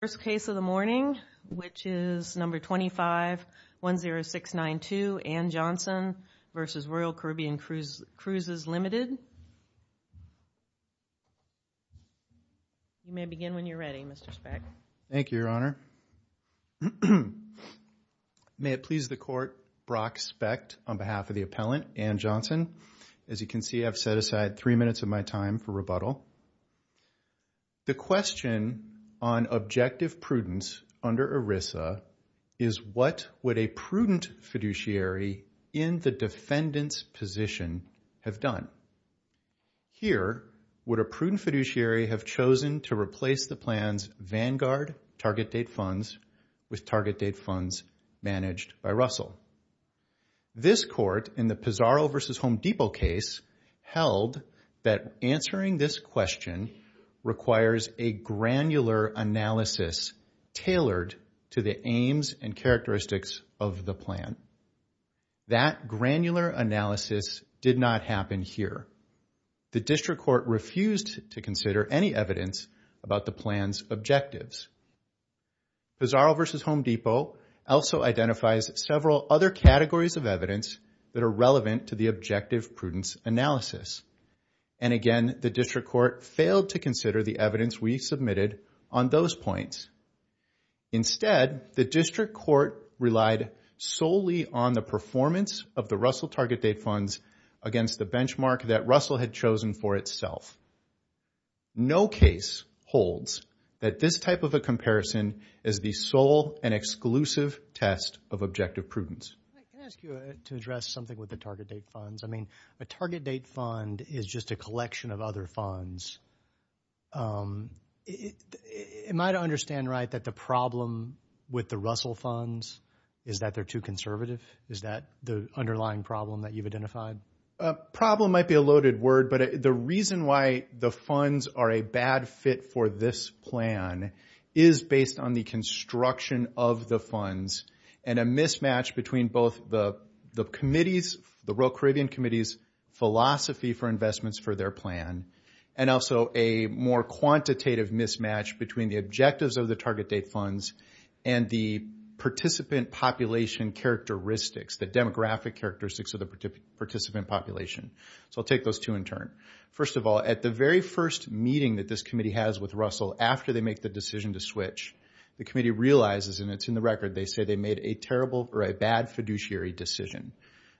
First case of the morning, which is number 2510692, Ann Johnson v. Royal Caribbean Cruises Ltd. You may begin when you're ready, Mr. Speck. Thank you, Your Honor. May it please the Court, Brock Speck on behalf of the appellant, Ann Johnson. As you can see, I've set aside three minutes of my time for rebuttal. The question on objective prudence under ERISA is what would a prudent fiduciary in the defendant's position have done? Here, would a prudent fiduciary have chosen to replace the plan's Vanguard target date funds with target date funds managed by Russell? This Court, in the Pizarro v. Home Depot case, held that answering this question requires a granular analysis tailored to the aims and characteristics of the plan. That granular analysis did not happen here. The District Court refused to consider any evidence about the plan's objectives. Pizarro v. Home Depot also identifies several other categories of evidence that are relevant to the objective prudence analysis. And again, the District Court failed to consider the evidence we submitted on those points. Instead, the District Court relied solely on the performance of the Russell target date funds against the benchmark that Russell had chosen for itself. No case holds that this type of a comparison is the sole and exclusive test of objective prudence. Can I ask you to address something with the target date funds? I mean, a target date fund is just a collection of other funds. Am I to understand right that the problem with the Russell funds is that they're too conservative? Is that the underlying problem that you've identified? A problem might be a loaded word, but the reason why the funds are a bad fit for this plan is based on the construction of the funds and a mismatch between both the committees, the Royal Caribbean Committee's philosophy for investments for their plan, and also a more quantitative mismatch between the objectives of the target date funds and the participant population characteristics, the demographic characteristics of the participant population. So I'll take those two in turn. First of all, at the very first meeting that this committee has with Russell after they make the decision to switch, the committee realizes, and it's in the record, they say they made a terrible or a bad fiduciary decision.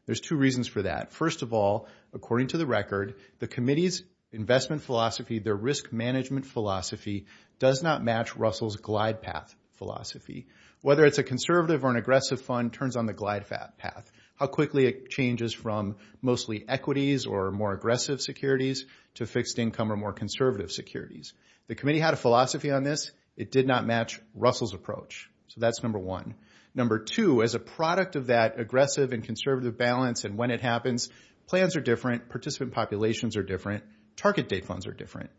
There's two reasons for that. First of all, according to the record, the committee's investment philosophy, their risk management philosophy, does not match Russell's glide path philosophy. Whether it's a conservative or an aggressive fund turns on the glide path, how quickly it changes from mostly equities or more aggressive securities to fixed income or more conservative securities. The committee had a philosophy on this. It did not match Russell's approach. So that's number one. Number two, as a product of that aggressive and conservative balance and when it happens, plans are different, participant populations are different, target date funds are different.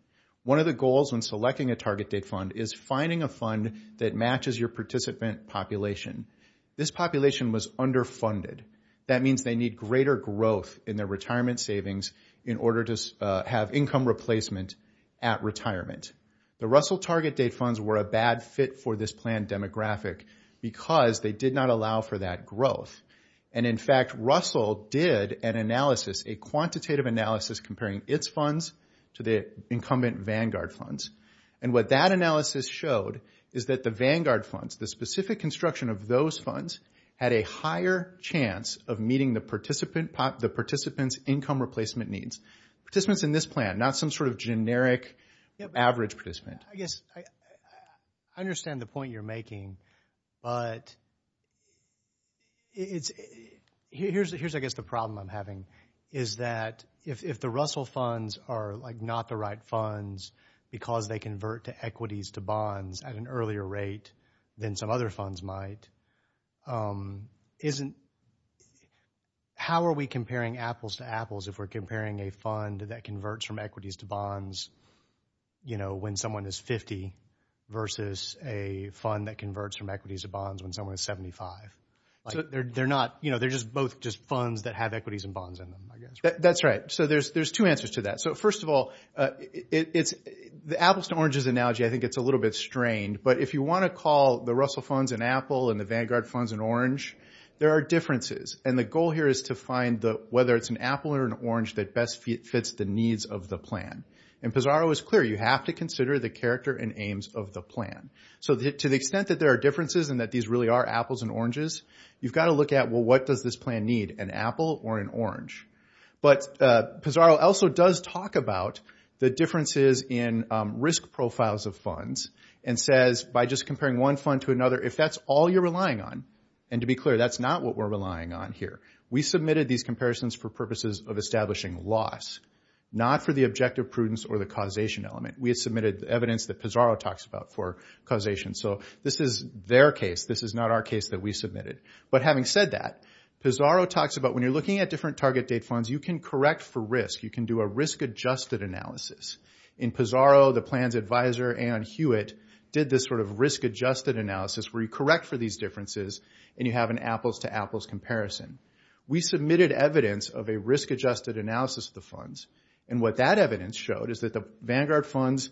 One of the goals when selecting a target date fund is finding a fund that matches your participant population. This population was underfunded. That means they need greater growth in their retirement savings in order to have income replacement at retirement. The Russell target date funds were a bad fit for this plan demographic because they did not allow for that growth. And in fact, Russell did an analysis, a quantitative analysis comparing its funds to the incumbent Vanguard funds. And what that analysis showed is that the Vanguard funds, the specific construction of those funds, had a higher chance of meeting the participant's income replacement needs. Participants in this plan, not some sort of generic average participant. I guess I understand the point you're making, but here's I guess the problem I'm having, is that if the Russell funds are like not the right funds because they convert to equities to bonds at an earlier rate than some other funds might, how are we comparing apples to apples if we're comparing a fund that converts from equities to bonds when someone is 50 versus a fund that converts from equities to bonds when someone is 75? They're both just funds that have equities and bonds in them, I guess. That's right. So there's two answers to that. So first of all, the apples to oranges analogy, I think it's a little bit strained. But if you want to call the Russell funds an apple and the Vanguard funds an orange, there are differences. And the goal here is to find whether it's an apple or an orange that best fits the needs of the plan. And Pizarro is clear, you have to consider the character and aims of the plan. So to the extent that there are differences and that these really are apples and oranges, you've got to look at, well, what does this plan need, an apple or an orange? But Pizarro also does talk about the differences in risk profiles of funds and says, by just comparing one fund to another, if that's all you're relying on, and to be clear, that's not what we're relying on here. We submitted these comparisons for purposes of establishing loss, not for the objective prudence or the causation element. We had submitted evidence that Pizarro talks about for causation. So this is their case. This is not our case that we submitted. But having said that, Pizarro talks about when you're looking at different target date funds, you can correct for risk. You can do a risk-adjusted analysis. In Pizarro, the plan's advisor, Ann Hewitt, did this sort of risk-adjusted analysis where you correct for these differences and you have an apples-to-apples comparison. We submitted evidence of a risk-adjusted analysis of the funds, and what that evidence showed is that the Vanguard funds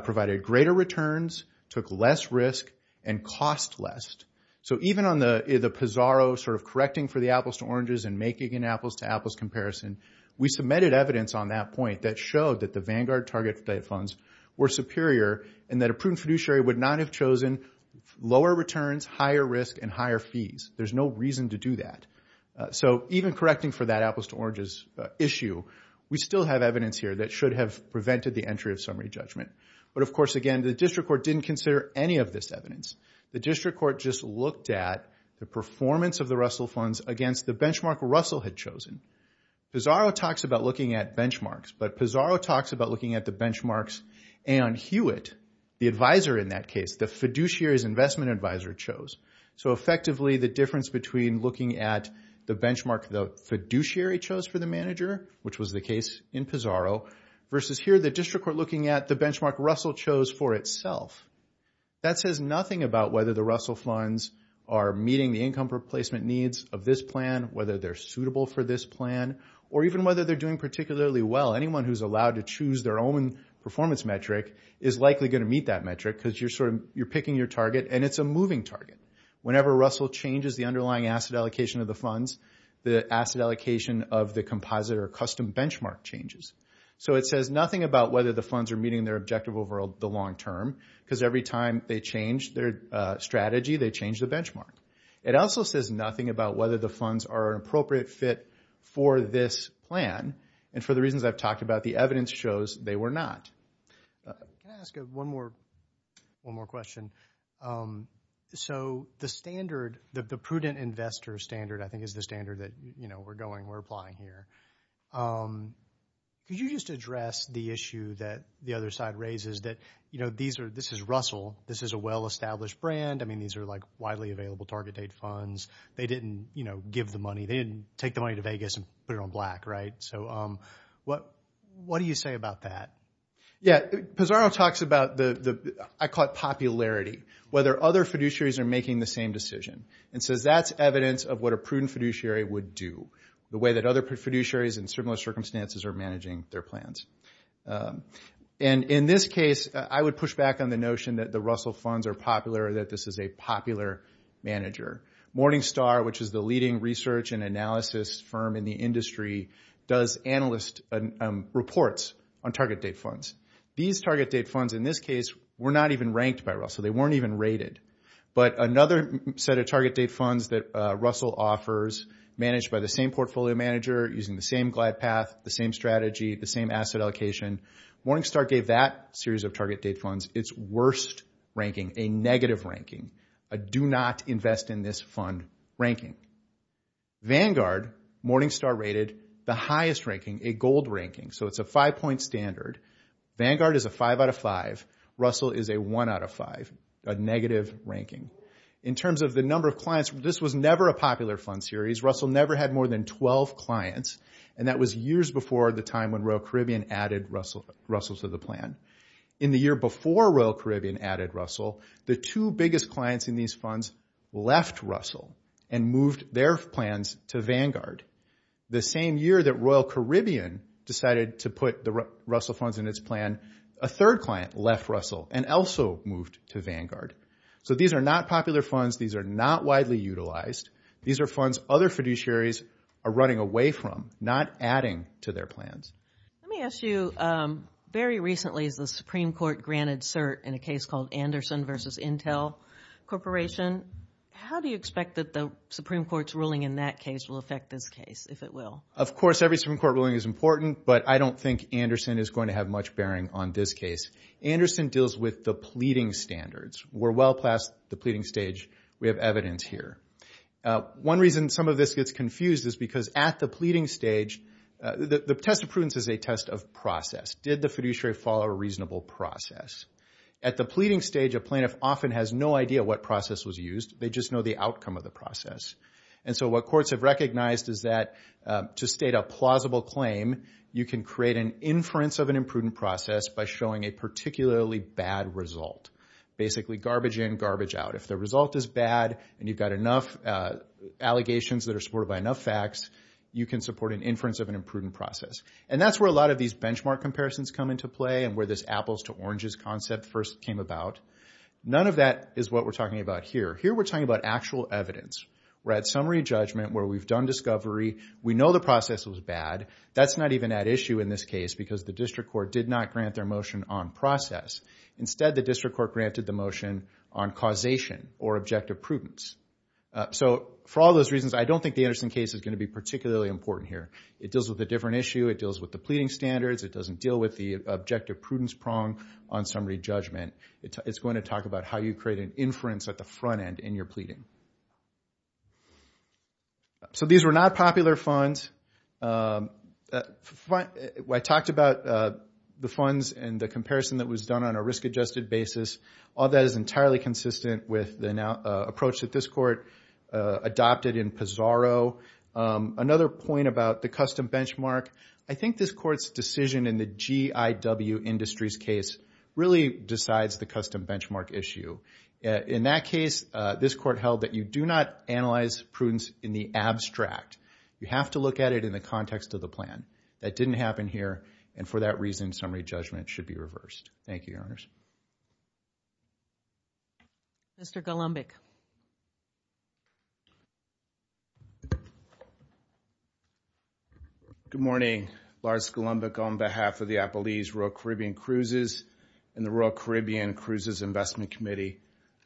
provided greater returns, took less risk, and cost less. So even on the Pizarro sort of correcting for the apples-to-oranges and making an apples-to-apples comparison, we submitted evidence on that point that showed that the Vanguard target date funds were superior and that a prudent fiduciary would not have chosen lower returns, higher risk, and higher fees. There's no reason to do that. So even correcting for that apples-to-oranges issue, we still have evidence here that should have prevented the entry of summary judgment. But, of course, again, the district court didn't consider any of this evidence. The district court just looked at the performance of the Russell funds against the benchmark Russell had chosen. Pizarro talks about looking at benchmarks, but Pizarro talks about looking at the benchmarks Aon Hewitt, the advisor in that case, the fiduciary's investment advisor, chose. So effectively the difference between looking at the benchmark the fiduciary chose for the manager, which was the case in Pizarro, versus here the district court looking at the benchmark Russell chose for itself. That says nothing about whether the Russell funds are meeting the income replacement needs of this plan, whether they're suitable for this plan, or even whether they're doing particularly well. Anyone who's allowed to choose their own performance metric is likely going to meet that metric because you're picking your target, and it's a moving target. Whenever Russell changes the underlying asset allocation of the funds, the asset allocation of the composite or custom benchmark changes. So it says nothing about whether the funds are meeting their objective over the long term because every time they change their strategy, they change the benchmark. It also says nothing about whether the funds are an appropriate fit for this plan, and for the reasons I've talked about, the evidence shows they were not. Can I ask one more question? So the standard, the prudent investor standard I think is the standard that we're going, we're applying here. Could you just address the issue that the other side raises that, you know, this is Russell. This is a well-established brand. I mean, these are, like, widely available target date funds. They didn't, you know, give the money. They didn't take the money to Vegas and put it on black, right? So what do you say about that? Yeah, Pizarro talks about the, I call it popularity, whether other fiduciaries are making the same decision. And so that's evidence of what a prudent fiduciary would do, the way that other fiduciaries in similar circumstances are managing their plans. And in this case, I would push back on the notion that the Russell funds are popular, that this is a popular manager. Morningstar, which is the leading research and analysis firm in the industry, does analyst reports on target date funds. These target date funds in this case were not even ranked by Russell. They weren't even rated. But another set of target date funds that Russell offers, managed by the same portfolio manager, using the same glide path, the same strategy, the same asset allocation. Morningstar gave that series of target date funds its worst ranking, a negative ranking, a do not invest in this fund ranking. Vanguard, Morningstar rated the highest ranking, a gold ranking. So it's a five-point standard. Vanguard is a five out of five. Russell is a one out of five, a negative ranking. In terms of the number of clients, this was never a popular fund series. Russell never had more than 12 clients. And that was years before the time when Royal Caribbean added Russell to the plan. In the year before Royal Caribbean added Russell, the two biggest clients in these funds left Russell and moved their plans to Vanguard. The same year that Royal Caribbean decided to put the Russell funds in its plan, a third client left Russell and also moved to Vanguard. So these are not popular funds. These are not widely utilized. These are funds other fiduciaries are running away from, not adding to their plans. Let me ask you, very recently the Supreme Court granted cert in a case called Anderson v. Intel Corporation. How do you expect that the Supreme Court's ruling in that case will affect this case, if it will? Of course every Supreme Court ruling is important, but I don't think Anderson is going to have much bearing on this case. Anderson deals with the pleading standards. We're well past the pleading stage. We have evidence here. One reason some of this gets confused is because at the pleading stage, the test of prudence is a test of process. Did the fiduciary follow a reasonable process? At the pleading stage, a plaintiff often has no idea what process was used. They just know the outcome of the process. And so what courts have recognized is that to state a plausible claim, you can create an inference of an imprudent process by showing a particularly bad result. Basically garbage in, garbage out. If the result is bad and you've got enough allegations that are supported by enough facts, you can support an inference of an imprudent process. And that's where a lot of these benchmark comparisons come into play and where this apples to oranges concept first came about. None of that is what we're talking about here. Here we're talking about actual evidence. We're at summary judgment where we've done discovery. We know the process was bad. That's not even at issue in this case because the district court did not grant their motion on process. Instead, the district court granted the motion on causation or objective prudence. So for all those reasons, I don't think the Anderson case is going to be particularly important here. It deals with a different issue. It deals with the pleading standards. It doesn't deal with the objective prudence prong on summary judgment. It's going to talk about how you create an inference at the front end in your pleading. So these were not popular funds. I talked about the funds and the comparison that was done on a risk-adjusted basis. All that is entirely consistent with the approach that this court adopted in Pizarro. Another point about the custom benchmark, I think this court's decision in the GIW Industries case really decides the custom benchmark issue. In that case, this court held that you do not analyze prudence in the abstract. You have to look at it in the context of the plan. That didn't happen here. And for that reason, summary judgment should be reversed. Thank you, Your Honors. Mr. Golombik. Good morning. Lars Golombik on behalf of the Appalachian Rural Caribbean Cruises and the Rural Caribbean Cruises Investment Committee.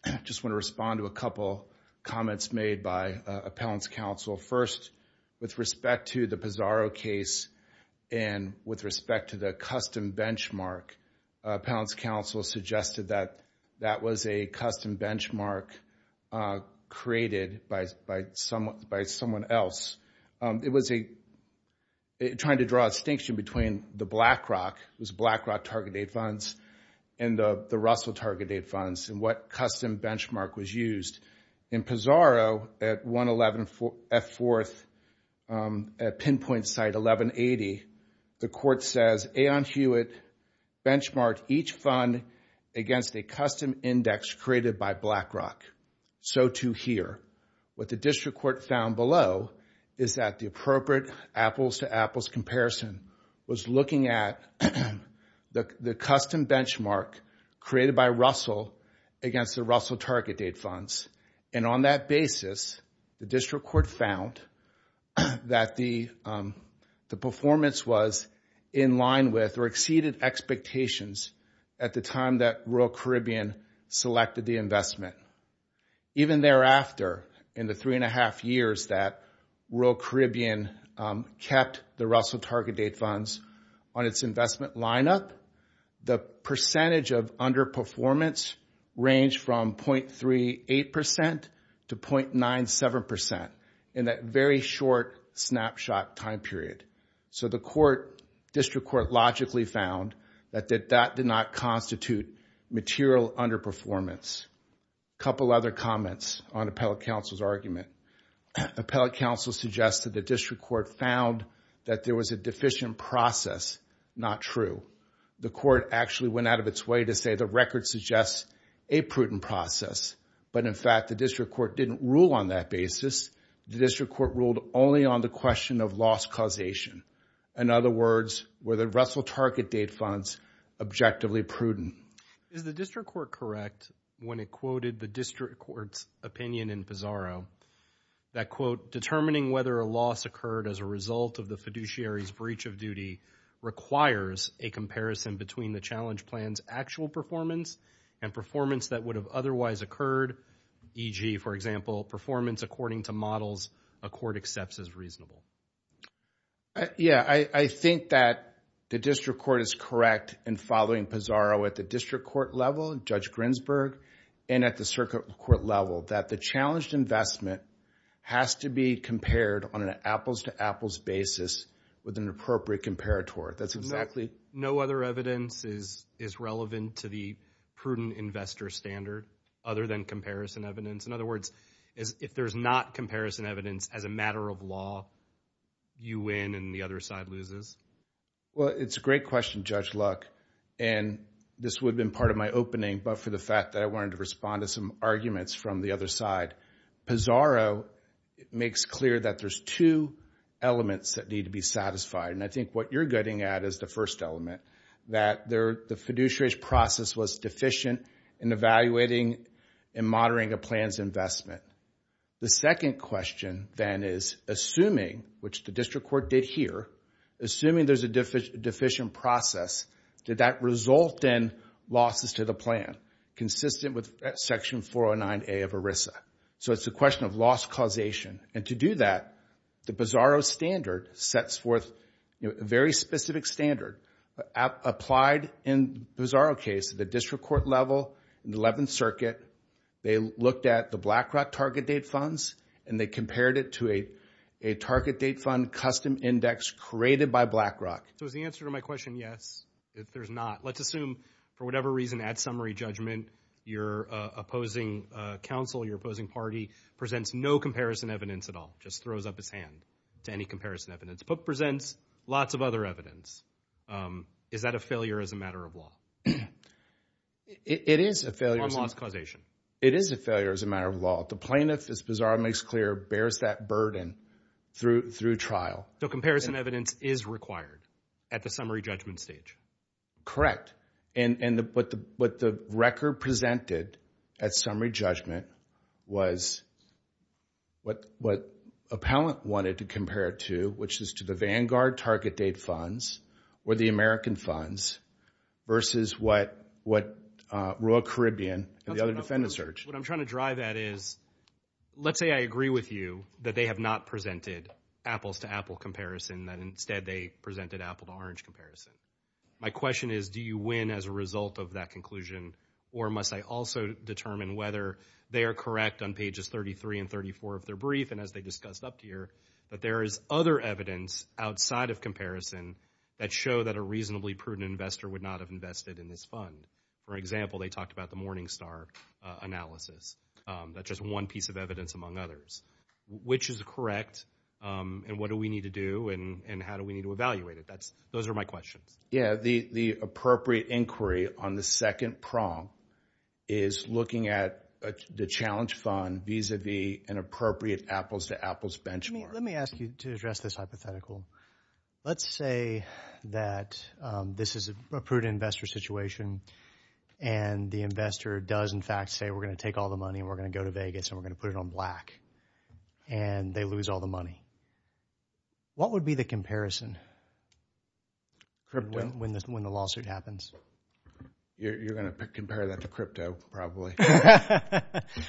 I just want to respond to a couple comments made by Appellant's Counsel. First, with respect to the Pizarro case and with respect to the custom benchmark, Appellant's Counsel suggested that that was a custom benchmark created by someone else. It was trying to draw a distinction between the BlackRock, those BlackRock target-date funds, and the Russell target-date funds, and what custom benchmark was used. In Pizarro at 111F4 at pinpoint site 1180, the court says, Aeon Hewitt benchmarked each fund against a custom index created by BlackRock. So too here. What the district court found below is that the appropriate apples-to-apples comparison was looking at the custom benchmark created by Russell against the Russell target-date funds. And on that basis, the district court found that the performance was in line with or exceeded expectations at the time that Rural Caribbean selected the investment. Even thereafter, in the three and a half years that Rural Caribbean kept the Russell target-date funds on its investment lineup, the percentage of underperformance ranged from 0.38% to 0.97% in that very short snapshot time period. So the district court logically found that that did not constitute material underperformance. A couple other comments on appellate counsel's argument. Appellate counsel suggested the district court found that there was a deficient process. Not true. The court actually went out of its way to say the record suggests a prudent process. But in fact, the district court didn't rule on that basis. The district court ruled only on the question of loss causation. In other words, were the Russell target-date funds objectively prudent? Is the district court correct when it quoted the district court's opinion in Pizarro that, quote, determining whether a loss occurred as a result of the fiduciary's breach of duty requires a comparison between the challenge plan's actual performance and performance that would have otherwise occurred, e.g., for example, performance according to models a court accepts as reasonable? Yeah, I think that the district court is correct in following Pizarro at the district court level, Judge Grinsberg, and at the circuit court level, that the challenged investment has to be compared on an apples-to-apples basis with an appropriate comparator. Exactly. No other evidence is relevant to the prudent investor standard other than comparison evidence. In other words, if there's not comparison evidence, as a matter of law, you win and the other side loses? Well, it's a great question, Judge Luck, and this would have been part of my opening, but for the fact that I wanted to respond to some arguments from the other side. Pizarro makes clear that there's two elements that need to be satisfied, and I think what you're getting at is the first element, that the fiduciary process was deficient in evaluating and monitoring a plan's investment. The second question, then, is assuming, which the district court did here, assuming there's a deficient process, did that result in losses to the plan, consistent with Section 409A of ERISA? So it's a question of loss causation, and to do that, the Pizarro standard sets forth a very specific standard applied in the Pizarro case at the district court level in the 11th Circuit. They looked at the BlackRock target date funds, and they compared it to a target date fund custom index created by BlackRock. So is the answer to my question yes? If there's not, let's assume, for whatever reason, at summary judgment, your opposing counsel, your opposing party, presents no comparison evidence at all, just throws up its hand to any comparison evidence, but presents lots of other evidence, is that a failure as a matter of law? It is a failure. On loss causation? It is a failure as a matter of law. The plaintiff, as Pizarro makes clear, bears that burden through trial. So comparison evidence is required at the summary judgment stage? Correct, and what the record presented at summary judgment was what appellant wanted to compare it to, which is to the Vanguard target date funds or the American funds versus what Royal Caribbean and the other defendants urged. What I'm trying to drive at is, let's say I agree with you that they have not presented apples to apple comparison, that instead they presented apple to orange comparison. My question is, do you win as a result of that conclusion, or must I also determine whether they are correct on pages 33 and 34 of their brief, and as they discussed up here, that there is other evidence outside of comparison that show that a reasonably prudent investor would not have invested in this fund? For example, they talked about the Morningstar analysis. That's just one piece of evidence among others. Which is correct, and what do we need to do, and how do we need to evaluate it? Those are my questions. Yeah, the appropriate inquiry on the second prong is looking at the challenge fund vis-a-vis an appropriate apples to apples benchmark. Let me ask you to address this hypothetical. Let's say that this is a prudent investor situation, and the investor does in fact say, we're going to take all the money, and we're going to go to Vegas, and we're going to put it on black, and they lose all the money. What would be the comparison when the lawsuit happens? You're going to compare that to crypto probably.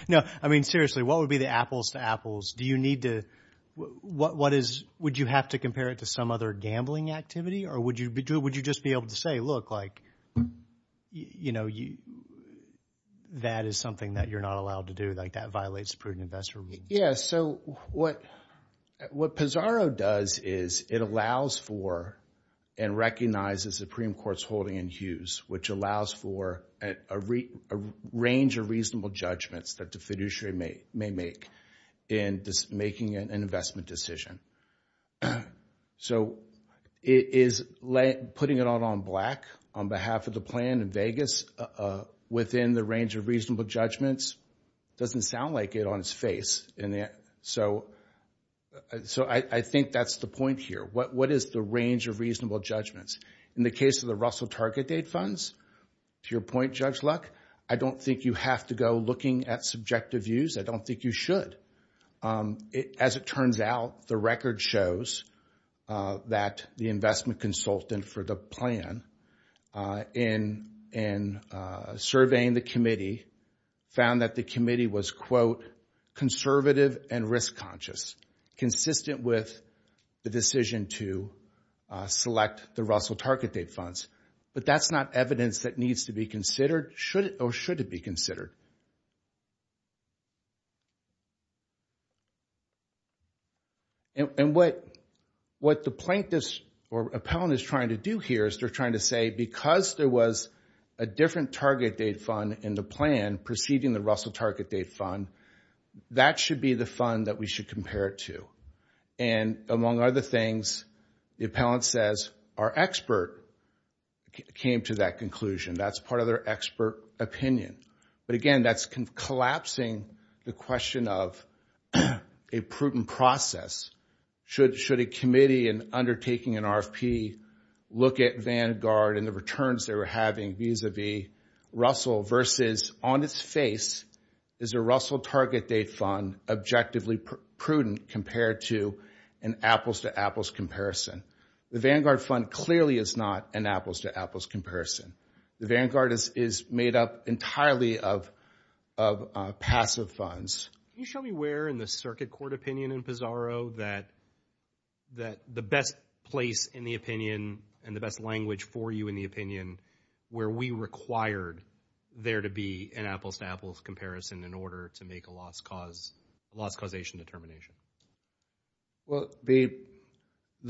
No, I mean seriously, what would be the apples to apples? Do you need to – what is – would you have to compare it to some other gambling activity, or would you just be able to say, look, like, you know, that is something that you're not allowed to do, like that violates prudent investor. Yeah, so what Pizarro does is it allows for and recognizes Supreme Court's holding in Hughes, which allows for a range of reasonable judgments that the fiduciary may make in making an investment decision. So is putting it out on black on behalf of the plan in Vegas within the range of reasonable judgments? It doesn't sound like it on its face. So I think that's the point here. What is the range of reasonable judgments? In the case of the Russell Target Aid funds, to your point, Judge Luck, I don't think you have to go looking at subjective views. I don't think you should. As it turns out, the record shows that the investment consultant for the plan in surveying the committee found that the committee was, quote, But that's not evidence that needs to be considered or should be considered. And what the plaintiff's or appellant is trying to do here is they're trying to say, because there was a different Target Aid fund in the plan preceding the Russell Target Aid fund, that should be the fund that we should compare it to. And among other things, the appellant says our expert came to that conclusion. That's part of their expert opinion. But again, that's collapsing the question of a prudent process. Should a committee undertaking an RFP look at Vanguard and the returns they were having vis-a-vis Russell versus on its face, is the Russell Target Aid fund objectively prudent compared to an apples-to-apples comparison? The Vanguard fund clearly is not an apples-to-apples comparison. The Vanguard is made up entirely of passive funds. Can you show me where in the circuit court opinion in Pizarro that the best place in the opinion and the best language for you in the opinion where we required there to be an apples-to-apples comparison in order to make a loss causation determination? Well, the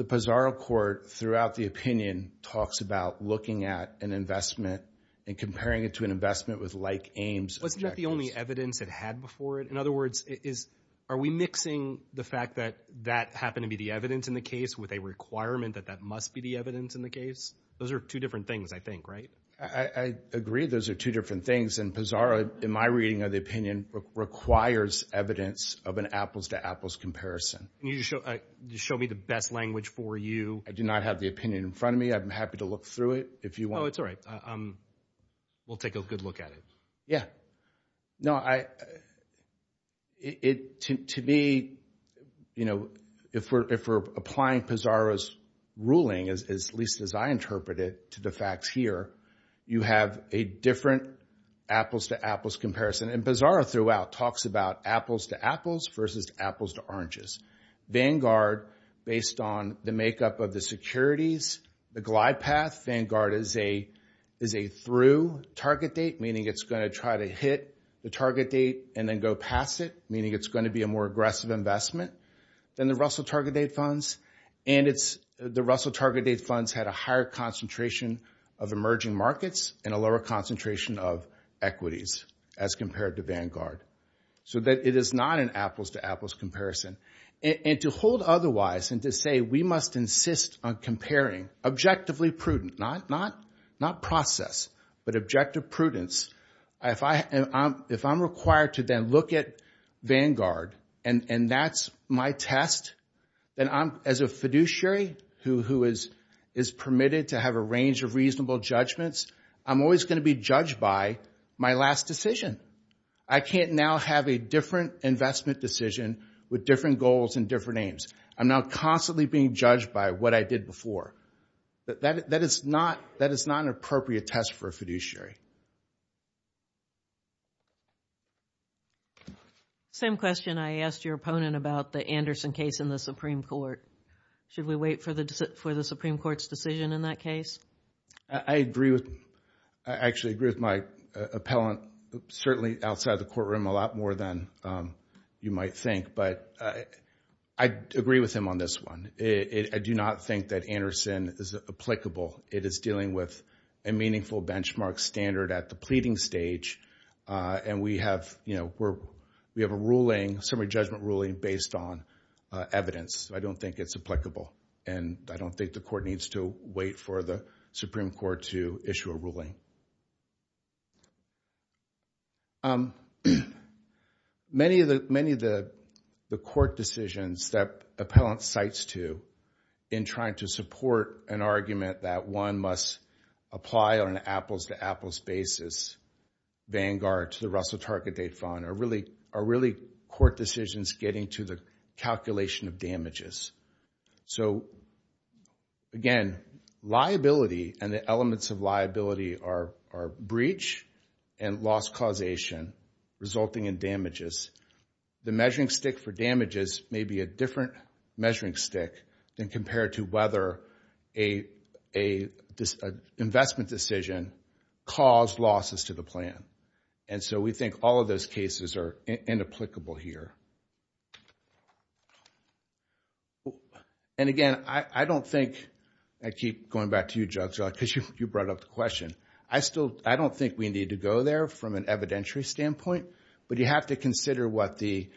Pizarro court throughout the opinion talks about looking at an investment and comparing it to an investment with like aims objectives. Wasn't that the only evidence it had before it? In other words, are we mixing the fact that that happened to be the evidence in the case with a requirement that that must be the evidence in the case? Those are two different things, I think, right? I agree those are two different things, and Pizarro, in my reading of the opinion, requires evidence of an apples-to-apples comparison. Can you just show me the best language for you? I do not have the opinion in front of me. I'm happy to look through it if you want. Oh, it's all right. We'll take a good look at it. Yeah. No, to me, you know, if we're applying Pizarro's ruling, at least as I interpret it, to the facts here, you have a different apples-to-apples comparison. And Pizarro throughout talks about apples-to-apples versus apples-to-oranges. Vanguard, based on the makeup of the securities, the glide path, Vanguard is a through target date, meaning it's going to try to hit the target date and then go past it, meaning it's going to be a more aggressive investment than the Russell target date funds. And the Russell target date funds had a higher concentration of emerging markets and a lower concentration of equities as compared to Vanguard. So it is not an apples-to-apples comparison. And to hold otherwise and to say we must insist on comparing, objectively prudent, not process, but objective prudence, if I'm required to then look at Vanguard and that's my test, then as a fiduciary who is permitted to have a range of reasonable judgments, I'm always going to be judged by my last decision. I can't now have a different investment decision with different goals and different aims. I'm now constantly being judged by what I did before. That is not an appropriate test for a fiduciary. Same question. I asked your opponent about the Anderson case in the Supreme Court. Should we wait for the Supreme Court's decision in that case? I actually agree with my appellant certainly outside the courtroom a lot more than you might think. But I agree with him on this one. I do not think that Anderson is applicable. It is dealing with a meaningful benchmark standard at the pleading stage. And we have a summary judgment ruling based on evidence. I don't think it's applicable. And I don't think the court needs to wait for the Supreme Court to issue a ruling. Many of the court decisions that appellant cites to in trying to support an argument that one must apply on an apples-to-apples basis Vanguard to the Russell Target Date Fund are really court decisions getting to the calculation of damages. So, again, liability and the elements of liability are breach and loss causation resulting in damages. The measuring stick for damages may be a different measuring stick than compared to whether an investment decision caused losses to the plan. And so we think all of those cases are inapplicable here. And, again, I don't think... I keep going back to you, Judge, because you brought up the question. I don't think we need to go there from an evidentiary standpoint. But you have to consider what the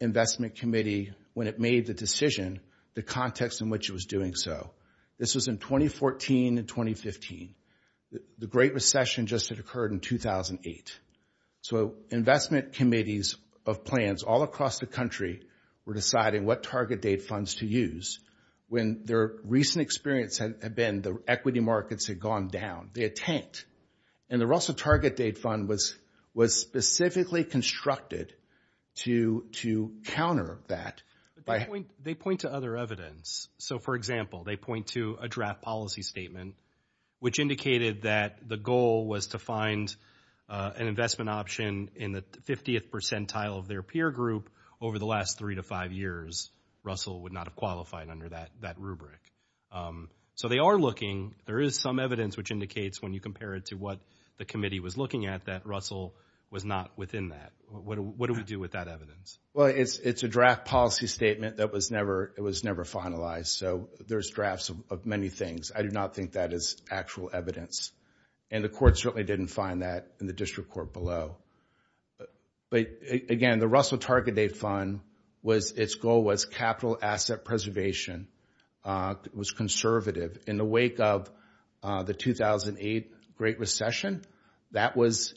investment committee, when it made the decision, the context in which it was doing so. This was in 2014 and 2015. The Great Recession just had occurred in 2008. So investment committees of plans all across the country were deciding what target date funds to use. When their recent experience had been the equity markets had gone down. They had tanked. And the Russell Target Date Fund was specifically constructed to counter that. They point to other evidence. So, for example, they point to a draft policy statement, which indicated that the goal was to find an investment option in the 50th percentile of their peer group over the last three to five years. Russell would not have qualified under that rubric. So they are looking. There is some evidence which indicates, when you compare it to what the committee was looking at, that Russell was not within that. What do we do with that evidence? Well, it's a draft policy statement that was never finalized. So there's drafts of many things. I do not think that is actual evidence. And the courts certainly didn't find that in the district court below. But, again, the Russell Target Date Fund, its goal was capital asset preservation. It was conservative. In the wake of the 2008 Great Recession, that was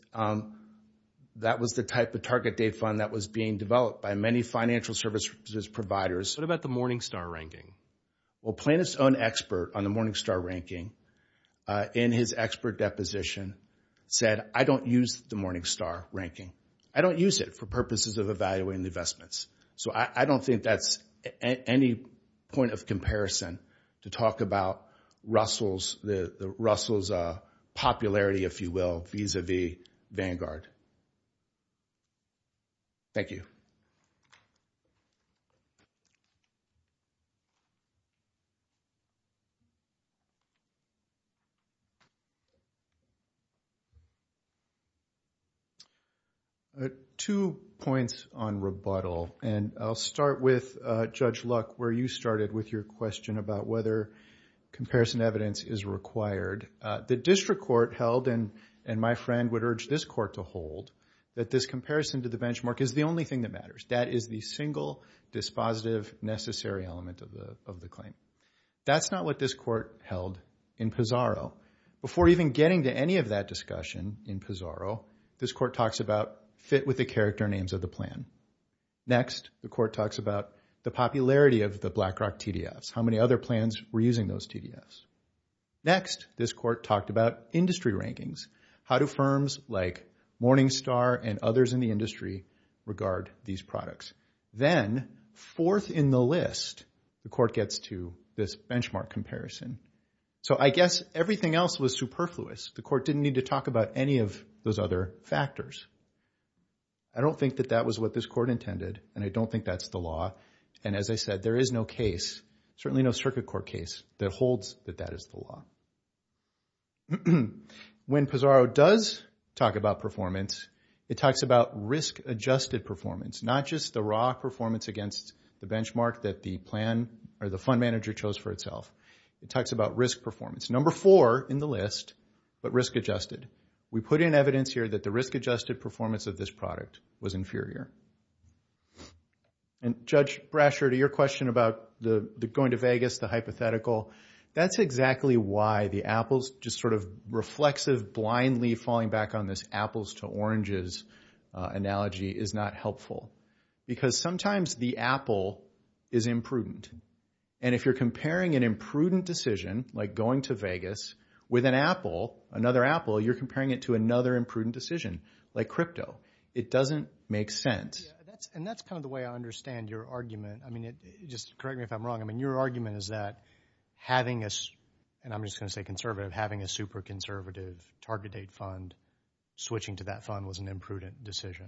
the type of target date fund that was being developed by many financial services providers. What about the Morningstar ranking? Well, Plaintiff's own expert on the Morningstar ranking, in his expert deposition, said, I don't use the Morningstar ranking. I don't use it for purposes of evaluating investments. So I don't think that's any point of comparison to talk about Russell's popularity, if you will, vis-à-vis Vanguard. Thank you. Two points on rebuttal, and I'll start with Judge Luck, where you started with your question about whether comparison evidence is required. The district court held, and my friend would urge this court to hold, that this comparison to the benchmark is the only thing that matters. That is the single dispositive necessary element of the claim. That's not what this court held in Pizarro. Before even getting to any of that discussion in Pizarro, this court talks about fit with the character names of the plan. Next, the court talks about the popularity of the BlackRock TDFs, how many other plans were using those TDFs. Next, this court talked about industry rankings. How do firms like Morningstar and others in the industry regard these products? Then, fourth in the list, the court gets to this benchmark comparison. So I guess everything else was superfluous. The court didn't need to talk about any of those other factors. I don't think that that was what this court intended, and I don't think that's the law. And as I said, there is no case, certainly no circuit court case, that holds that that is the law. When Pizarro does talk about performance, it talks about risk-adjusted performance, not just the raw performance against the benchmark that the fund manager chose for itself. It talks about risk performance. Number four in the list, but risk-adjusted. We put in evidence here that the risk-adjusted performance of this product was inferior. And Judge Brasher, to your question about going to Vegas, the hypothetical, that's exactly why the apples, just sort of reflexive, blindly falling back on this apples-to-oranges analogy, is not helpful, because sometimes the apple is imprudent. And if you're comparing an imprudent decision, like going to Vegas, with an apple, another apple, you're comparing it to another imprudent decision, like crypto. It doesn't make sense. Yeah, and that's kind of the way I understand your argument. I mean, just correct me if I'm wrong. I mean, your argument is that having a, and I'm just going to say conservative, having a super-conservative target date fund, switching to that fund was an imprudent decision.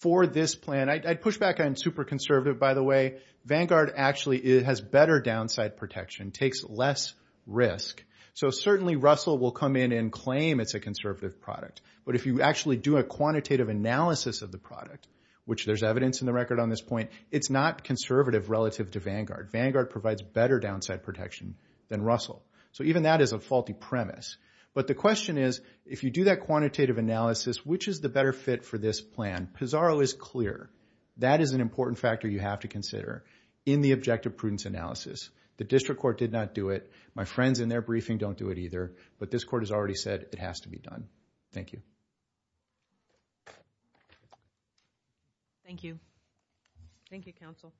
For this plan, I'd push back on super-conservative, by the way. Vanguard actually has better downside protection, takes less risk. So certainly Russell will come in and claim it's a conservative product, but if you actually do a quantitative analysis of the product, which there's evidence in the record on this point, it's not conservative relative to Vanguard. Vanguard provides better downside protection than Russell. So even that is a faulty premise. But the question is, if you do that quantitative analysis, which is the better fit for this plan? Pizarro is clear. That is an important factor you have to consider in the objective prudence analysis. The district court did not do it. My friends in their briefing don't do it either. But this court has already said it has to be done. Thank you. Thank you. Thank you, counsel.